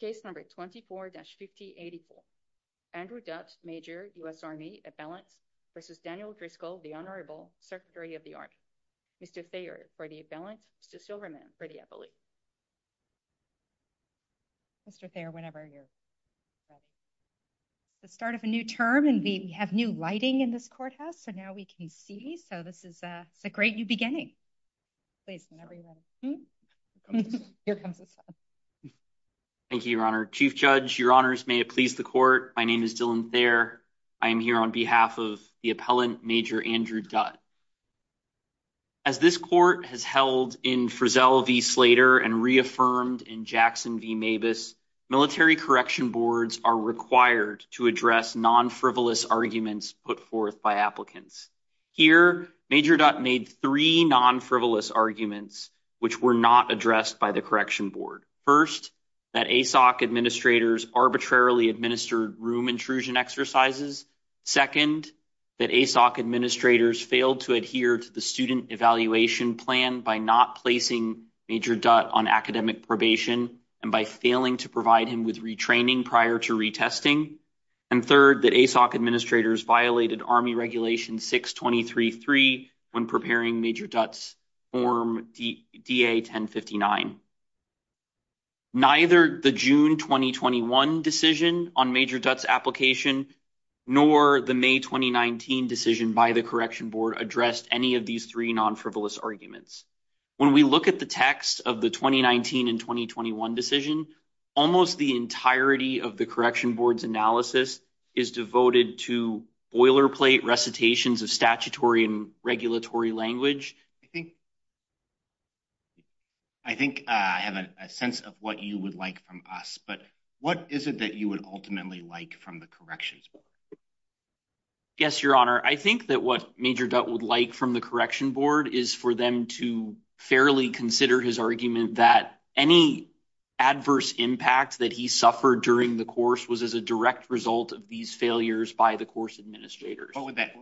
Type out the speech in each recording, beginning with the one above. Case number 24-5084. Andrew Dudt, Major, U.S. Army, at-balance, versus Daniel Driscoll, the Honorable Secretary of the Army. Mr. Thayer for the at-balance, Mr. Silverman for the appellee. Mr. Thayer, whenever you're ready. The start of a new term and we have new lighting in this courthouse so now we can see, so this is a great new beginning. Please, whenever you're ready. Thank you, Your Honor. Chief Judge, Your Honors, may it please the court, my name is Dylan Thayer. I am here on behalf of the appellant, Major Andrew Dudt. As this court has held in Frizzell v. Slater and reaffirmed in Jackson v. Mabus, military correction boards are required to address non-frivolous arguments put forth by applicants. Here, Major Dudt made three non-frivolous arguments which were not addressed by the correction board. First, that ASOC administrators arbitrarily administered room intrusion exercises. Second, that ASOC administrators failed to adhere to the student evaluation plan by not placing Major Dudt on academic probation and by failing to provide him with retraining prior to retesting. And third, that ASOC administrators violated Army Regulation 623-3 when preparing Major Dudt's Form DA-1059. Neither the June 2021 decision on Major Dudt's application nor the May 2019 decision by the correction board addressed any of these three non-frivolous arguments. When we look at the text of the 2019 and 2021 decision, almost the entirety of the correction board's analysis is devoted to boilerplate recitations of statutory and regulatory language. I think I have a sense of what you would like from us, but what is it that you would ultimately like from the corrections board? Yes, your honor. I think that what Major Dudt would like from the correction board is for them to fairly consider his argument that any adverse impact that he suffered during the course was as a direct result of these failures by the course administrators. What would that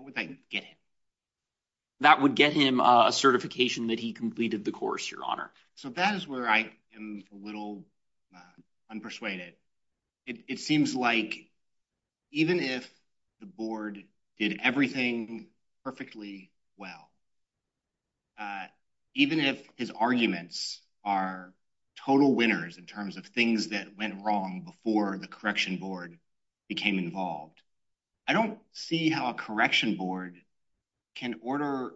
get him? That would get him a certification that he completed the course, your honor. So that is where I am a little unpersuaded. It seems like even if the board did everything perfectly well, even if his arguments are total winners in terms of things that went wrong before the correction board became involved, I don't see how a correction board can order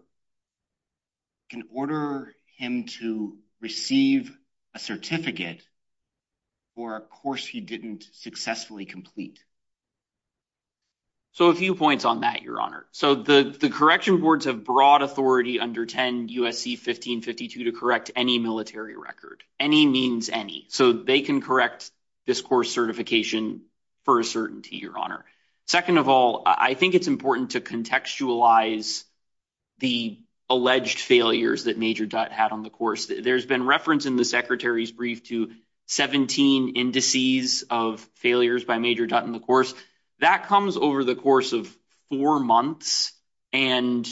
him to receive a certificate for a course he didn't successfully complete. So a few points on that, your honor. So the correction boards have broad authority under 10 U.S.C. 1552 to correct any military record, any means any. So they can correct this course certification for a certainty, your honor. Second of all, I think it's important to contextualize the alleged failures that Major Dutt had on the course. There's been reference in the secretary's brief to 17 indices of failures by Major Dutt in the course. That comes over the course of four months and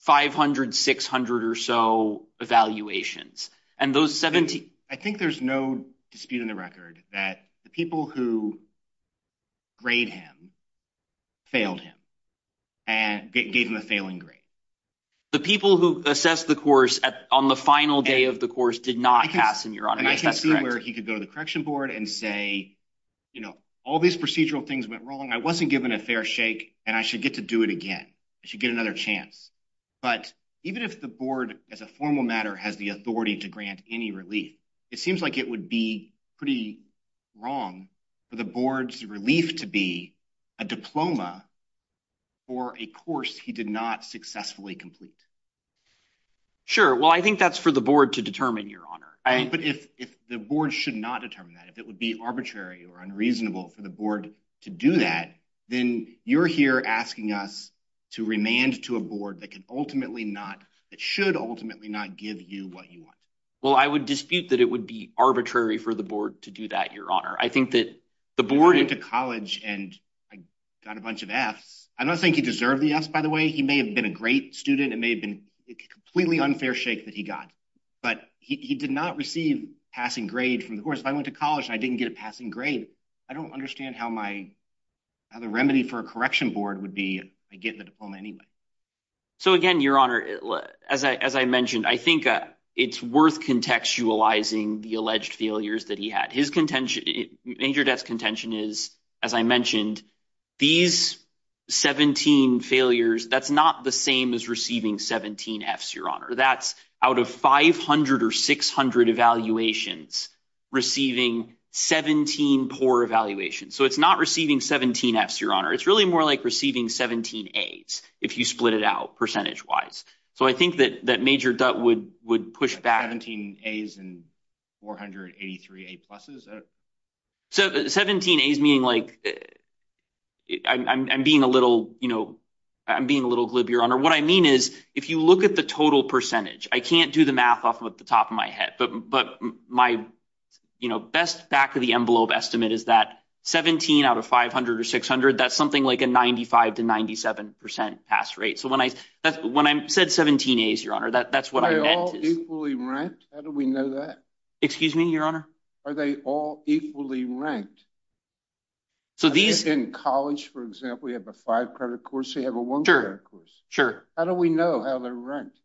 500, 600 or so evaluations. I think there's no dispute in the record that the people who grade him failed him and gave him a failing grade. The people who assessed the course on the final day of the course did not pass, and your honor. I can see where he could go to the correction board and say, you know, all these procedural things went wrong. I wasn't given a fair shake and I should get to do it again. I should get another chance. But even if the board as a formal matter has the authority to grant any relief, it seems like it would be pretty wrong for the board's relief to be a diploma for a course he did not successfully complete. Sure. Well, I think that's for the board to determine, your honor. But if the board should not determine that, if it would be arbitrary or unreasonable for the board to do that, then you're here asking us to remand to a board that can ultimately not, that should ultimately not give you what you want. Well, I would dispute that it would be arbitrary for the board to do that, your honor. I think that the board went to college and I got a bunch of F's. I don't think he deserved the F's, by the way. He may have been a great student. It may have been a completely unfair shake that he got, but he did not receive passing grade from the course. If I went to college and I didn't get passing grade, I don't understand how my, how the remedy for a correction board would be I get the diploma anyway. So again, your honor, as I mentioned, I think it's worth contextualizing the alleged failures that he had. His contention, major debt's contention is, as I mentioned, these 17 failures, that's not the same as receiving 17 F's, your honor. That's out of 500 or 600 evaluations receiving 17 poor evaluations. So it's not receiving 17 F's, your honor. It's really more like receiving 17 A's if you split it out percentage wise. So I think that that major debt would push back. 17 A's and 483 A pluses. So 17 A's meaning like, I'm being a little, you know, I'm being a little glib, your honor. What I mean is if you look at the total percentage, I can't do the math off of the top of my head, but my, you know, best back of the envelope estimate is that 17 out of 500 or 600, that's something like a 95 to 97% pass rate. So when I said 17 A's, your honor, that's what I meant. Are they all equally ranked? How do we know that? Excuse me, your honor? Are they all equally ranked? So these- In college, for example, you have a five credit course, you have a one credit course. Sure. How do we know how they're ranked?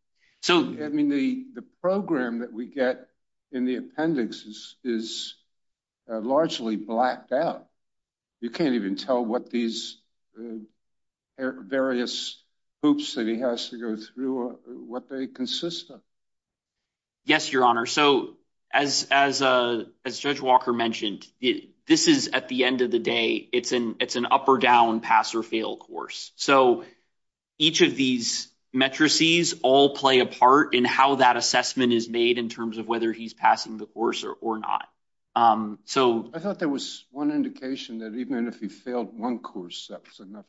I mean, the program that we get in the appendix is largely blacked out. You can't even tell what these various hoops that he has to go through, what they consist of. Yes, your honor. So as Judge Walker mentioned, this is at the end of the day, it's an up or down pass or fail course. So each of these matrices all play a part in how that assessment is made in terms of whether he's passing the course or not. So- I thought there was one indication that even if he failed one course, that was enough.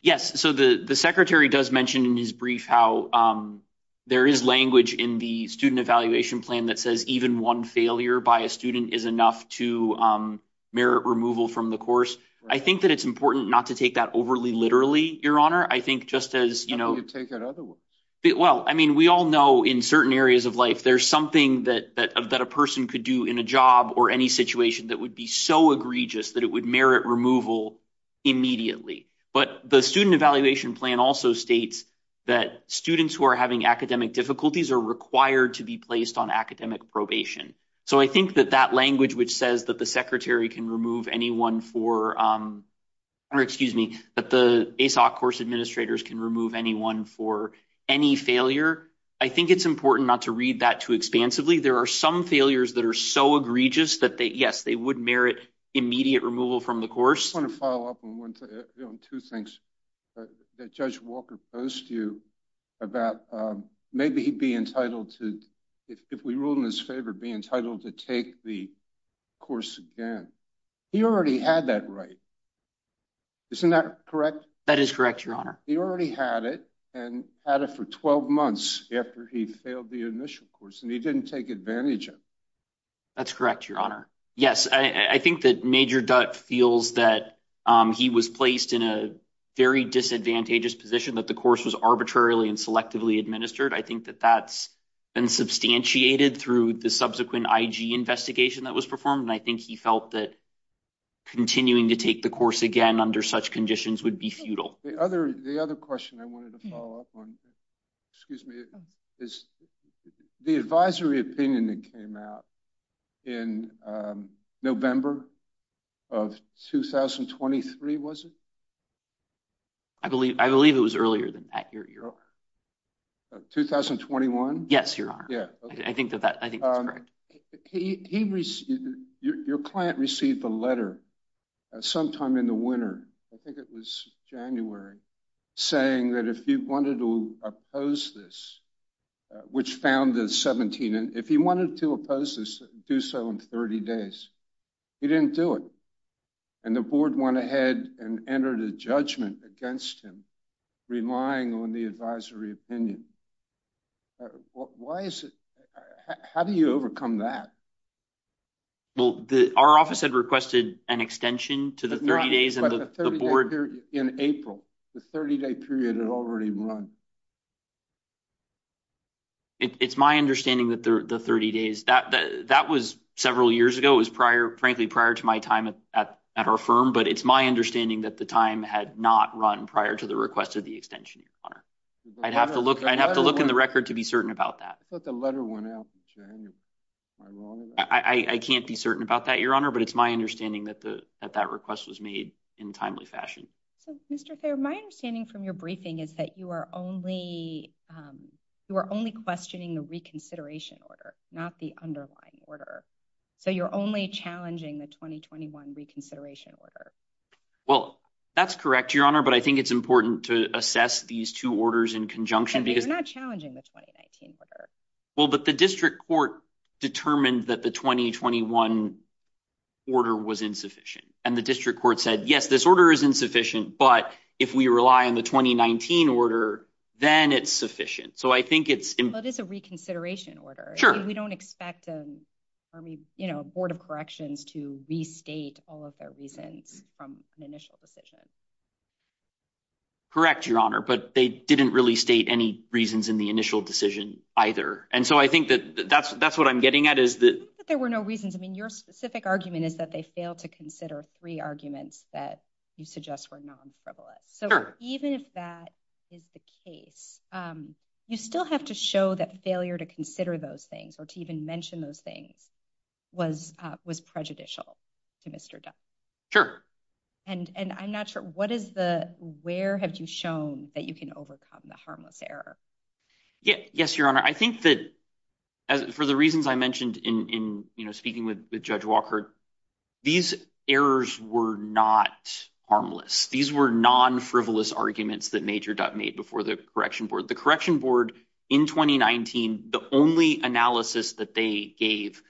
Yes. So the secretary does mention in his brief how there is language in the student evaluation plan that says even one failure by a student is enough to merit removal from the course. I think that it's important not to take that overly literally, your honor. I think just as- How do you take it otherwise? Well, I mean, we all know in certain areas of life, there's something that a person could do in a job or any situation that would be so egregious that it would merit removal immediately. But the student evaluation plan also states that students who are having academic difficulties are required to be placed on academic probation. So I think that that language which says that the secretary can remove anyone for- or excuse me, that the ASOC course administrators can remove anyone for any failure, I think it's important not to read that too expansively. There are some failures that are so egregious that they, yes, they would merit immediate removal from the course. I want to follow up on two things that Judge Walker posed to you about maybe he'd be entitled to, if we rule in his favor, be entitled to take the course again. He already had that right. Isn't that correct? That is correct, your honor. He already had it and had it for 12 months after he failed the initial course and he didn't take advantage of it. That's correct, your honor. Yes, I think that Major Dutt feels that he was placed in a very disadvantageous position, that the course was arbitrarily and selectively administered. I think that that's been substantiated through the subsequent IG investigation that was performed and I think he felt that continuing to take the course again under such conditions would be futile. The other question I wanted to follow up on, excuse me, is the advisory opinion that came out in November of 2023, was it? I believe it was earlier than that, your honor. Of 2021? Yes, your honor. Yeah, okay. I think that that, I think that's correct. Your client received a letter sometime in the winter, I think it was January, saying that if you wanted to oppose this, which found the 17, if he wanted to oppose this, do so in 30 days, he didn't do it and the board went ahead and entered a judgment against him, relying on the advisory opinion. Why is it, how do you overcome that? Well, the, our office had requested an extension to the 30 days and the board. In April, the 30-day period had already run. It's my understanding that the 30 days, that was several years ago, it was prior, frankly, prior to my time at our firm, but it's my understanding that the time had not run prior to the request of the extension, your honor. I'd have to look, I'd have to look in the record to be certain about that. But the letter went out in January, am I wrong? I can't be certain about that, your honor, but it's my understanding that the, that that request was made in timely fashion. So, Mr. Thayer, my understanding from your briefing is that you are only, you are only questioning the reconsideration order, not the underlying order. So you're only challenging the 2021 reconsideration order. Well, that's correct, your honor, but I think it's important to assess these two orders in conjunction. And you're not challenging the 2019 order. Well, but the district court determined that the 2021 order was insufficient. And the district court said, yes, this order is insufficient, but if we rely on the 2019 order, then it's sufficient. So I think it's- That is a reconsideration order. Sure. We don't expect an army, you know, board of corrections to restate all of their reasons from an initial decision. Correct, your honor, but they didn't really state any reasons in the initial decision either. And so I think that that's, that's what I'm getting at is that- There were no reasons. I mean, your specific argument is that they failed to consider three arguments that you suggest were non-frivolous. So even if that is the case, you still have to show that failure to consider those things. So to even mention those things was prejudicial to Mr. Dutt. Sure. And I'm not sure, what is the, where have you shown that you can overcome the harmless error? Yeah, yes, your honor. I think that for the reasons I mentioned in, you know, speaking with Judge Walker, these errors were not harmless. These were non-frivolous arguments that Major Dutt made before the correction board. The correction board in 2019, the only analysis that they gave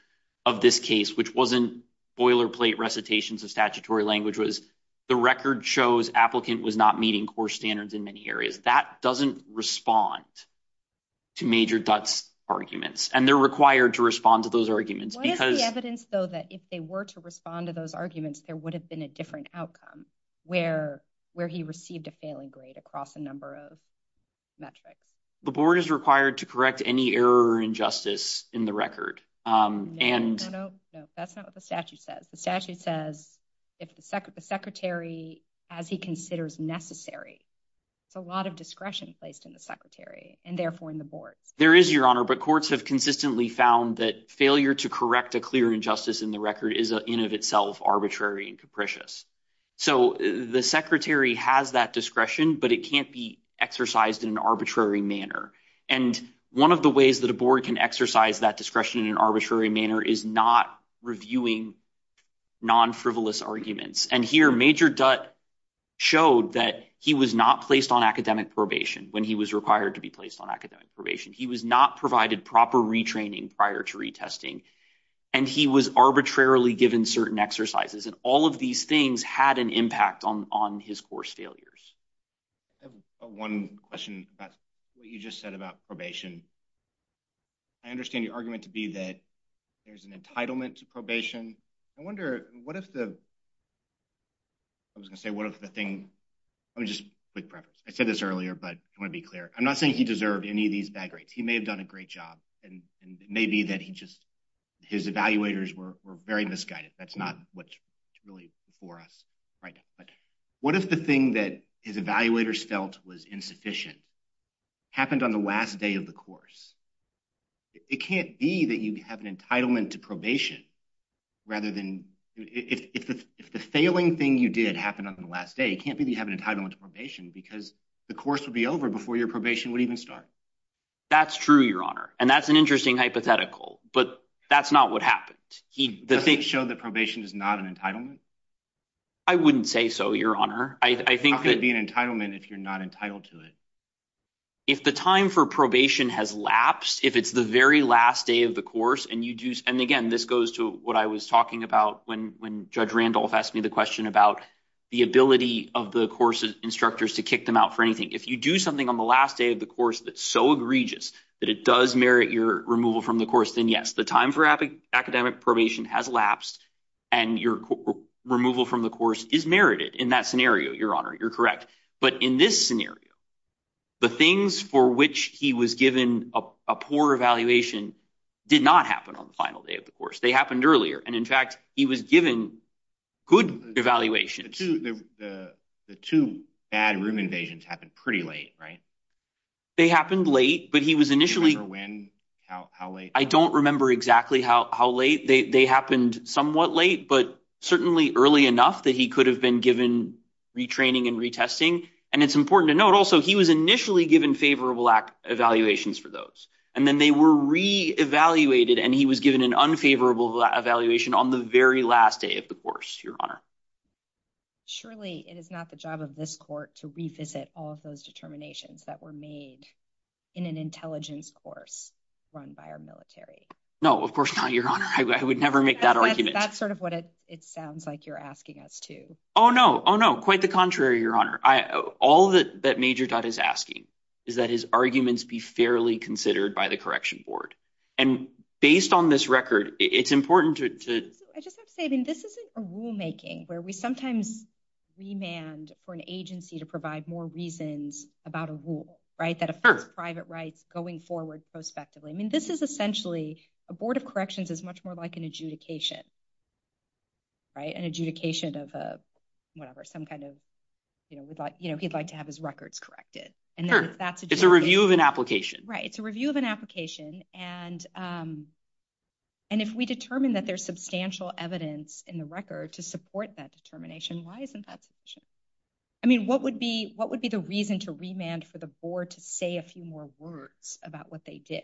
of this case, which wasn't boilerplate recitations of statutory language, was the record shows applicant was not meeting core standards in many areas. That doesn't respond to Major Dutt's arguments. And they're required to respond to those arguments because- What is the evidence, though, that if they were to respond to those arguments, there would have been a different outcome where he received a failing grade across a number of metrics? The board is required to correct any error or injustice in the record and- No, no, no. That's not what the statute says. The statute says if the secretary, as he considers necessary, it's a lot of discretion placed in the secretary and therefore in the board. There is, your honor, but courts have consistently found that failure to correct a clear injustice in the record is in of itself arbitrary and capricious. So the secretary has that discretion, but it can't be exercised in an arbitrary manner. And one of the ways that a board can exercise that discretion in an arbitrary manner is not reviewing non-frivolous arguments. And here, Major Dutt showed that he was not placed on academic probation when he was required to be placed on academic probation. He was not provided proper retraining prior to retesting. And he was arbitrarily given certain exercises. And all of these things had an impact on his course failures. I have one question about what you just said about probation. I understand your argument to be that there's an entitlement to probation. I wonder, what if the, I was going to say, what if the thing, I mean, just quick preface. I said this earlier, but I want to be clear. I'm not saying he deserved any of these bad grades. He may have done a great job. And it may be that he just, his evaluators were very misguided. That's not what's really before us right now. But what if the thing that his evaluators felt was insufficient happened on the last day of the course? It can't be that you have an entitlement to probation rather than, if the failing thing you did happened on the last day, it can't be that you have an entitlement to probation because the course would be over before your probation would even start. That's true, Your Honor. And that's an interesting hypothetical. But that's not what happened. Does it show that probation is not an entitlement? I wouldn't say so, Your Honor. How can it be an entitlement if you're not entitled to it? If the time for probation has lapsed, if it's the very last day of the course, and you do, and again, this goes to what I was talking about when Judge Randolph asked me the question about the ability of the course instructors to kick them out for anything. If you do something on the last day of the course that's so egregious that it does merit your removal from the course, then yes, the time for academic probation has lapsed and your removal from the course is merited in that scenario, Your Honor. You're correct. But in this scenario, the things for which he was given a poor evaluation did not happen on the final day of the course. They happened earlier. And in fact, he was given good evaluation. The two bad room invasions happened pretty late, right? They happened late, but he was initially... Given for when? How late? I don't remember exactly how late. They happened somewhat late, but certainly early enough that he could have been given retraining and retesting. And it's important to note also, he was initially given favorable evaluations for those, and then they were re-evaluated and he was given an unfavorable evaluation on the very last day of the course, Your Honor. Surely it is not the job of this court to revisit all of those determinations that were made in an intelligence course run by our military. No, of course not, Your Honor. I would never make that argument. That's sort of what it sounds like you're asking us to. Oh, no. Oh, no. Quite the contrary, Your Honor. All that Major Dodd is asking is that his arguments be fairly considered by the Correction Board. And based on this record, it's important to... I just have to say, I mean, this isn't a rulemaking where we sometimes remand for an agency to provide more reasons about a rule, right? That affects private rights going forward prospectively. I mean, this is essentially, a Board of Corrections is much more like an adjudication, right? An adjudication of whatever, some kind of, you know, he'd like to have his records corrected. And then if that's... It's a review of an application. Right, it's a review of an application. And if we determine that there's substantial evidence in the record to support that determination, why isn't that sufficient? I mean, what would be the reason to remand for the board to say a few more words about what they did?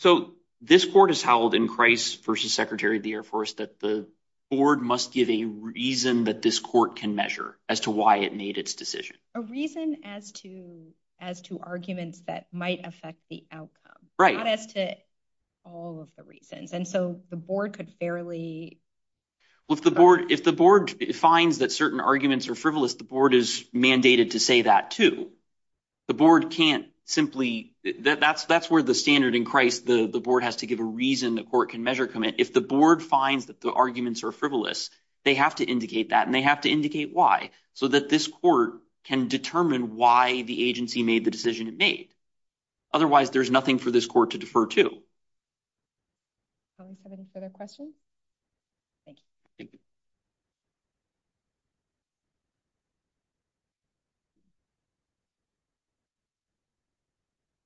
So this court has howled in Christ versus Secretary of the Air Force that the board must give a reason that this court can measure as to why it made its decision. A reason as to arguments that might affect the outcome. Right. Not as to all of the reasons. And so the board could fairly... Well, if the board finds that certain arguments are frivolous, the board is mandated to say that too. The board can't simply... That's where the standard in Christ, the board has to give a reason the court can measure commit. If the board finds that the arguments are frivolous, they have to indicate that and they have to indicate why so that this court can determine why the agency made the decision it made. Otherwise, there's nothing for this court to defer to. Do we have any further questions? Thank you. Thank you.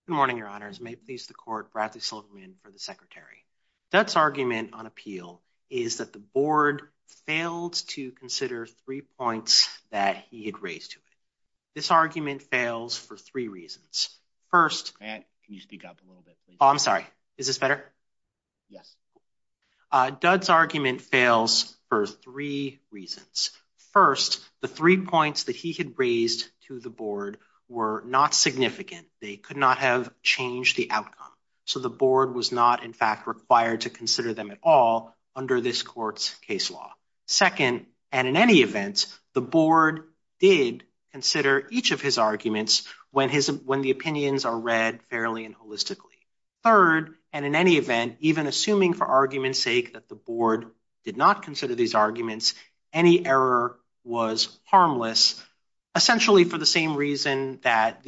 Good morning, your honors. May it please the court, Bradley Silverman for the secretary. Dutt's argument on appeal is that the board failed to consider three points that he had raised to it. This argument fails for three reasons. First... Matt, can you speak up a little bit, please? Oh, I'm sorry. Is this better? Dutt's argument fails for three reasons. First, the three points that he had raised to the board were not significant. They could not have changed the outcome. So the board was not, in fact, required to consider them at all under this court's case law. Second, and in any event, the board did consider each of his arguments when the opinions are read fairly and holistically. Third, and in any event, even assuming for argument's sake that the board did not consider these arguments, any error was harmless, essentially for the same reason that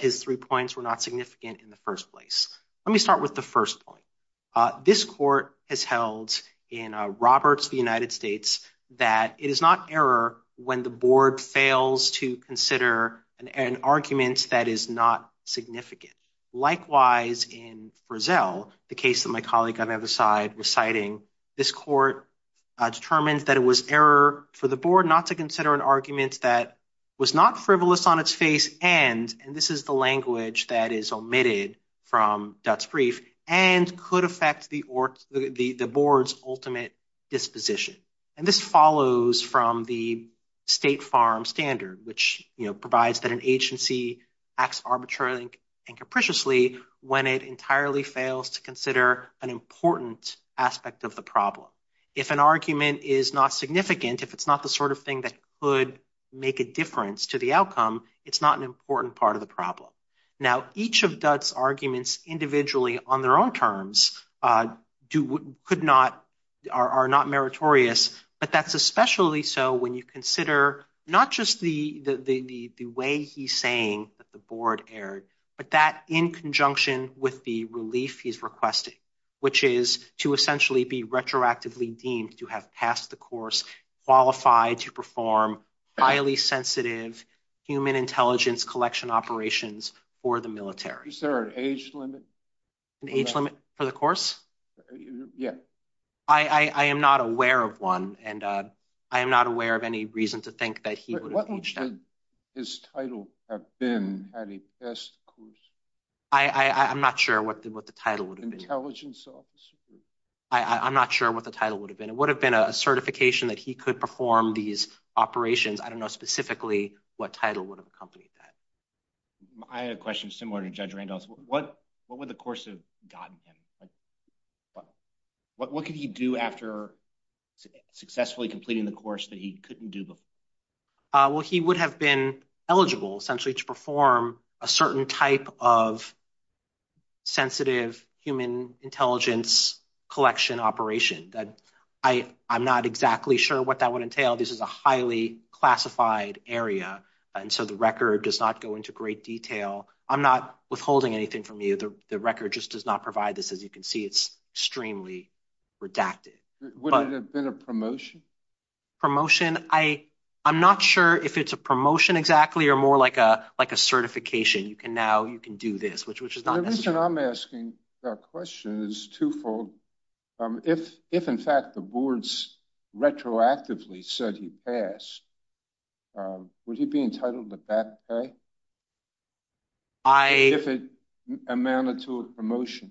his three points were not significant in the first place. Let me start with the first point. This court has held in Roberts v. United States that it is not error when the board fails to consider an argument that is not significant. Likewise, in Frizzell, the case that my colleague on the other side was citing, this court determined that it was error for the board not to consider an argument that was not frivolous on its face and, and this is the language that is omitted from Dutt's brief, and could affect the board's ultimate disposition. And this follows from the State Farm Standard, which provides that an agency acts arbitrarily and capriciously when it entirely fails to consider an important aspect of the problem. If an argument is not significant, if it's not the sort of thing that could make a difference to the outcome, it's not an important part of the problem. Now, each of Dutt's arguments individually on their own terms could not, are not meritorious, but that's especially so when you consider not just the way he's saying that the board erred, but that in conjunction with the relief he's requesting, which is to essentially be retroactively deemed to have passed the course, qualified to perform highly sensitive human intelligence collection operations for the military. Is there an age limit? An age limit for the course? Yeah. I am not aware of one, and I am not aware of any reason to think that he would have reached that. What would his title have been had he passed the course? I'm not sure what the title would have been. Intelligence officer? I'm not sure what the title would have been. It would have been a certification that he could perform these operations. I don't know specifically what title would have accompanied that. I had a question similar to Judge Randolph's. What would the course have gotten him? What could he do after successfully completing the course that he couldn't do before? Well, he would have been eligible essentially to perform a certain type of sensitive human intelligence collection operation. I'm not exactly sure what that would entail. This is a highly classified area, and so the record does not go into great detail. I'm not withholding anything from you. The record just does not provide this. As you can see, it's extremely redacted. Would it have been a promotion? I'm not sure if it's a promotion exactly or more like a certification. You can do this, which is not necessary. The reason I'm asking that question is twofold. If, in fact, the boards retroactively said he passed, would he be entitled to back pay? If it amounted to a promotion.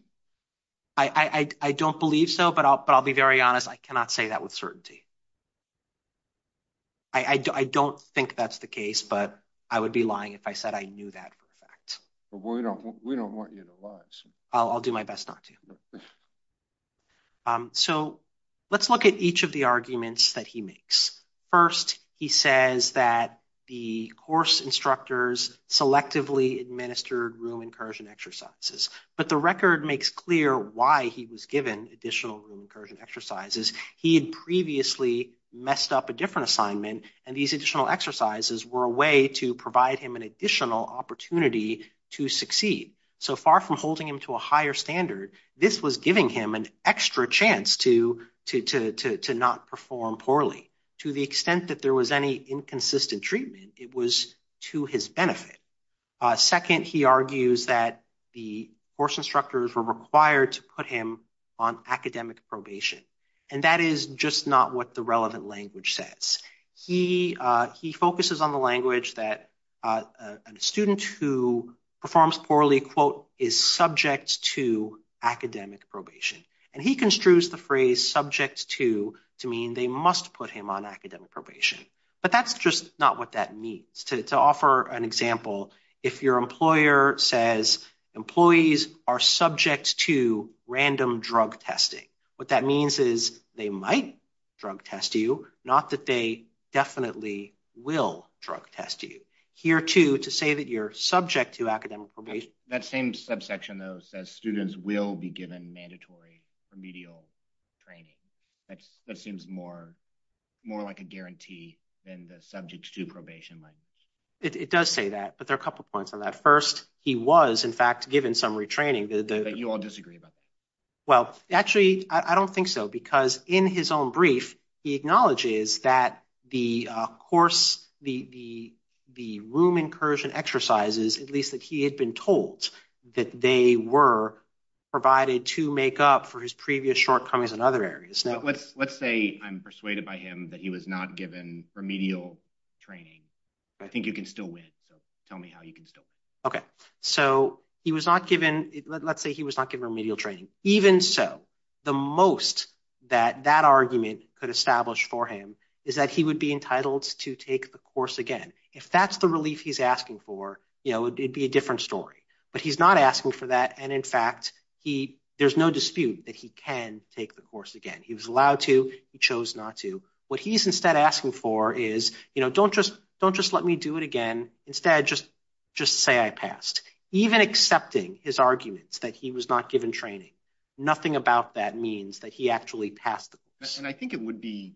I don't believe so, but I'll be very honest. I cannot say that with certainty. I don't think that's the case, but I would be lying if I said I knew that for a fact. But we don't want you to lie. I'll do my best not to. So let's look at each of the arguments that he makes. First, he says that the course instructors selectively administered room incursion exercises. But the record makes clear why he was given additional room incursion exercises. He had previously messed up a different assignment, and these additional exercises were a way to provide him an additional opportunity to succeed. So far from holding him to a higher standard, this was giving him an extra chance to not perform poorly. To the extent that there was any inconsistent treatment, it was to his benefit. Second, he argues that the course instructors were required to put him on academic probation. And that is just not what the relevant language says. He focuses on the language that a student who performs poorly, quote, is subject to academic probation. And he construes the phrase subject to, to mean they must put him on academic probation. But that's just not what that means. To offer an example, if your employer says employees are subject to random drug testing, what that means is they might drug test you, not that they definitely will drug test you. Here, too, to say that you're subject to academic probation. That same subsection, though, says students will be given mandatory remedial training. That seems more like a guarantee than the subject to probation language. It does say that. But there are a couple of points on that. First, he was, in fact, given some retraining. But you all disagree about that. Well, actually, I don't think so. Because in his own brief, he acknowledges that the course, the room incursion exercises, at least that he had been told, that they were provided to make up for his previous shortcomings in other areas. Let's say I'm persuaded by him that he was not given remedial training. I think you can still win. So tell me how you can still win. Okay. So he was not given, let's say he was not given remedial training. Even so, the most that that argument could establish for him is that he would be entitled to take the course again. If that's the relief he's asking for, you know, it'd be a different story. But he's not asking for that. And in fact, there's no dispute that he can take the course again. He was allowed to, he chose not to. What he's instead asking for is, you know, don't just let me do it again. Instead, just say I passed. Even accepting his arguments that he was not given training, nothing about that means that he actually passed the course. And I think it would be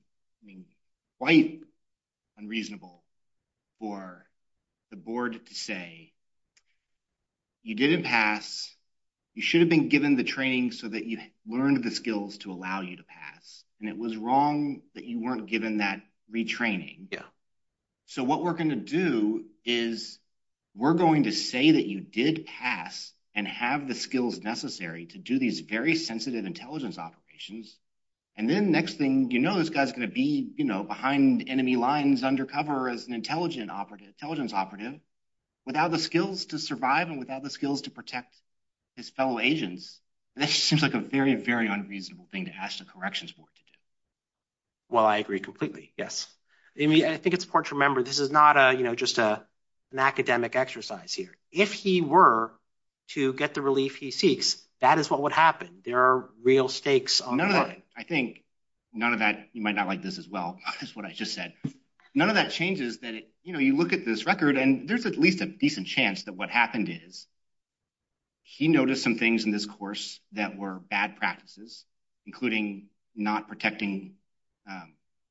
quite unreasonable for the board to say, you didn't pass, you should have been given the training so that you learned the skills to allow you to pass. And it was wrong that you weren't given that retraining. Yeah. So what we're going to do is, we're going to say that you did pass and have the skills necessary to do these very sensitive intelligence operations. And then next thing, you know this guy's going to be, you know, behind enemy lines, undercover as an intelligence operative without the skills to survive and without the skills to protect his fellow agents. That seems like a very, very unreasonable thing to ask the corrections board to do. Well, I agree completely. Yes. I think it's important to remember this is not, you know, just an academic exercise here. If he were to get the relief he seeks, that is what would happen. There are real stakes on the line. I think none of that, you might not like this as well, is what I just said. None of that changes that, you know, you look at this record and there's at least a decent chance that what happened is he noticed some things in this course that were bad practices, including not protecting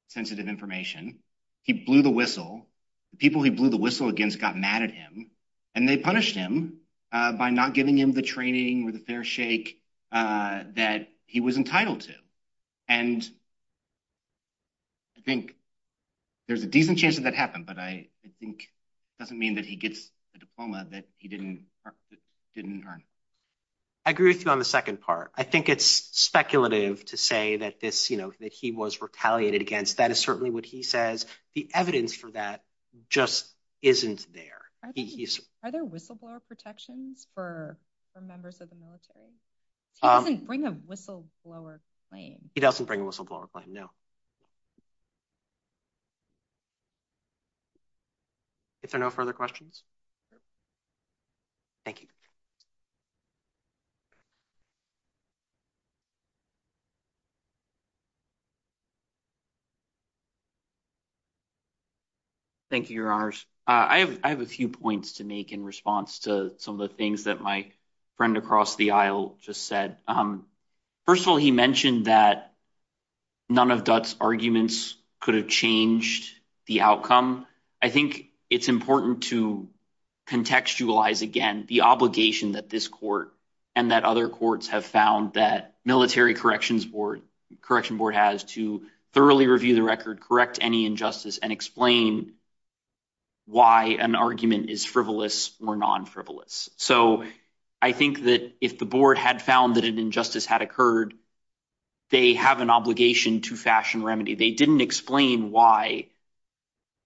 sensitive information. He blew the whistle. The people he blew the whistle against got mad at him and they punished him by not giving him the training or the fair shake that he was entitled to. And I think there's a decent chance that that happened. But I think it doesn't mean that he gets a diploma that he didn't earn. I agree with you on the second part. I think it's speculative to say that this, you know, that he was retaliated against. That is certainly what he says. The evidence for that just isn't there. Are there whistleblower protections for members of the military? He doesn't bring a whistleblower claim. He doesn't bring a whistleblower claim, no. If there are no further questions. Thank you. Thank you, your honors. I have a few points to make in response to some of the things that my friend across the aisle just said. First of all, he mentioned that none of Dutt's arguments could have changed the outcome. I think it's important to contextualize again the obligation that this court and that other courts have found that military corrections board, correction board has to thoroughly review the record, correct any injustice and explain why an argument is frivolous or non-frivolous. So I think that if the board had found that an injustice had occurred, they have an obligation to fashion remedy. They didn't explain why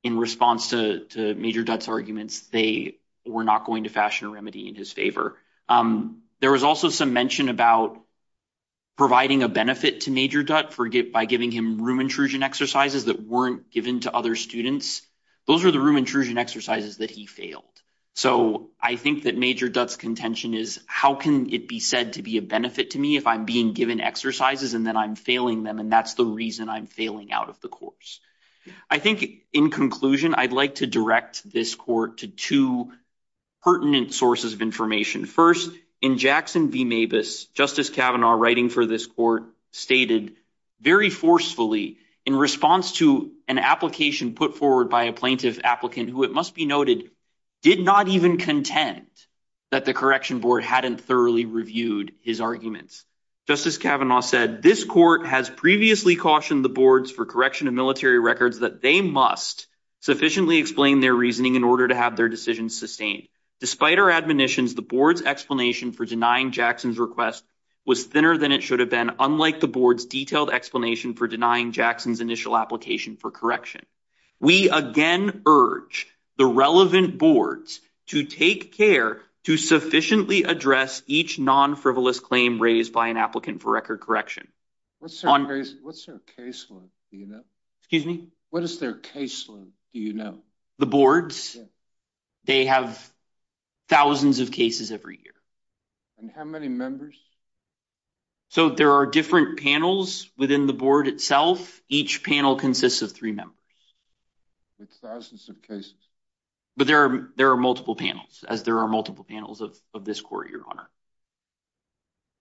in response to Major Dutt's arguments, they were not going to fashion a remedy in his favor. There was also some mention about providing a benefit to Major Dutt by giving him room intrusion exercises that weren't given to other students. Those are the room intrusion exercises that he failed. So I think that Major Dutt's contention is how can it be said to be a benefit to me if I'm being given exercises and then I'm failing them and that's the reason I'm failing out of the course. I think in conclusion, I'd like to direct this court to two pertinent sources of information. First, in Jackson v. Mabus, Justice Kavanaugh writing for this court stated very forcefully in response to an application put forward by a plaintiff applicant who it must be noted did not even contend that the correction board hadn't thoroughly reviewed his arguments. Justice Kavanaugh said, this court has previously cautioned the boards for correction of military records that they must sufficiently explain their reasoning in order to have their decisions sustained. Despite our admonitions, the board's explanation for denying Jackson's request was thinner than it should have been unlike the board's detailed explanation for denying Jackson's initial application for correction. We again urge the relevant boards to take care to sufficiently address each non-frivolous claim raised by an applicant for record correction. What's their caseload, do you know? Excuse me? What is their caseload, do you know? The boards, they have thousands of cases every year. And how many members? So there are different panels within the board itself. Each panel consists of three members. With thousands of cases. But there are multiple panels as there are multiple panels of this court, Your Honor.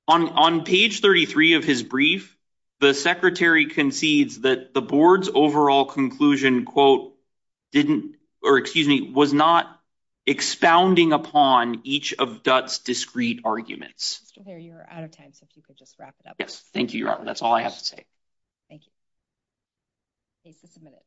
On page 33 of his brief, the secretary concedes that the board's overall conclusion, quote, didn't, or excuse me, was not expounding upon each of Dutt's discreet arguments. Mr. Thayer, you're out of time, so if you could just wrap it up. Yes, thank you, Your Honor. That's all I have to say. Thank you. Case is submitted.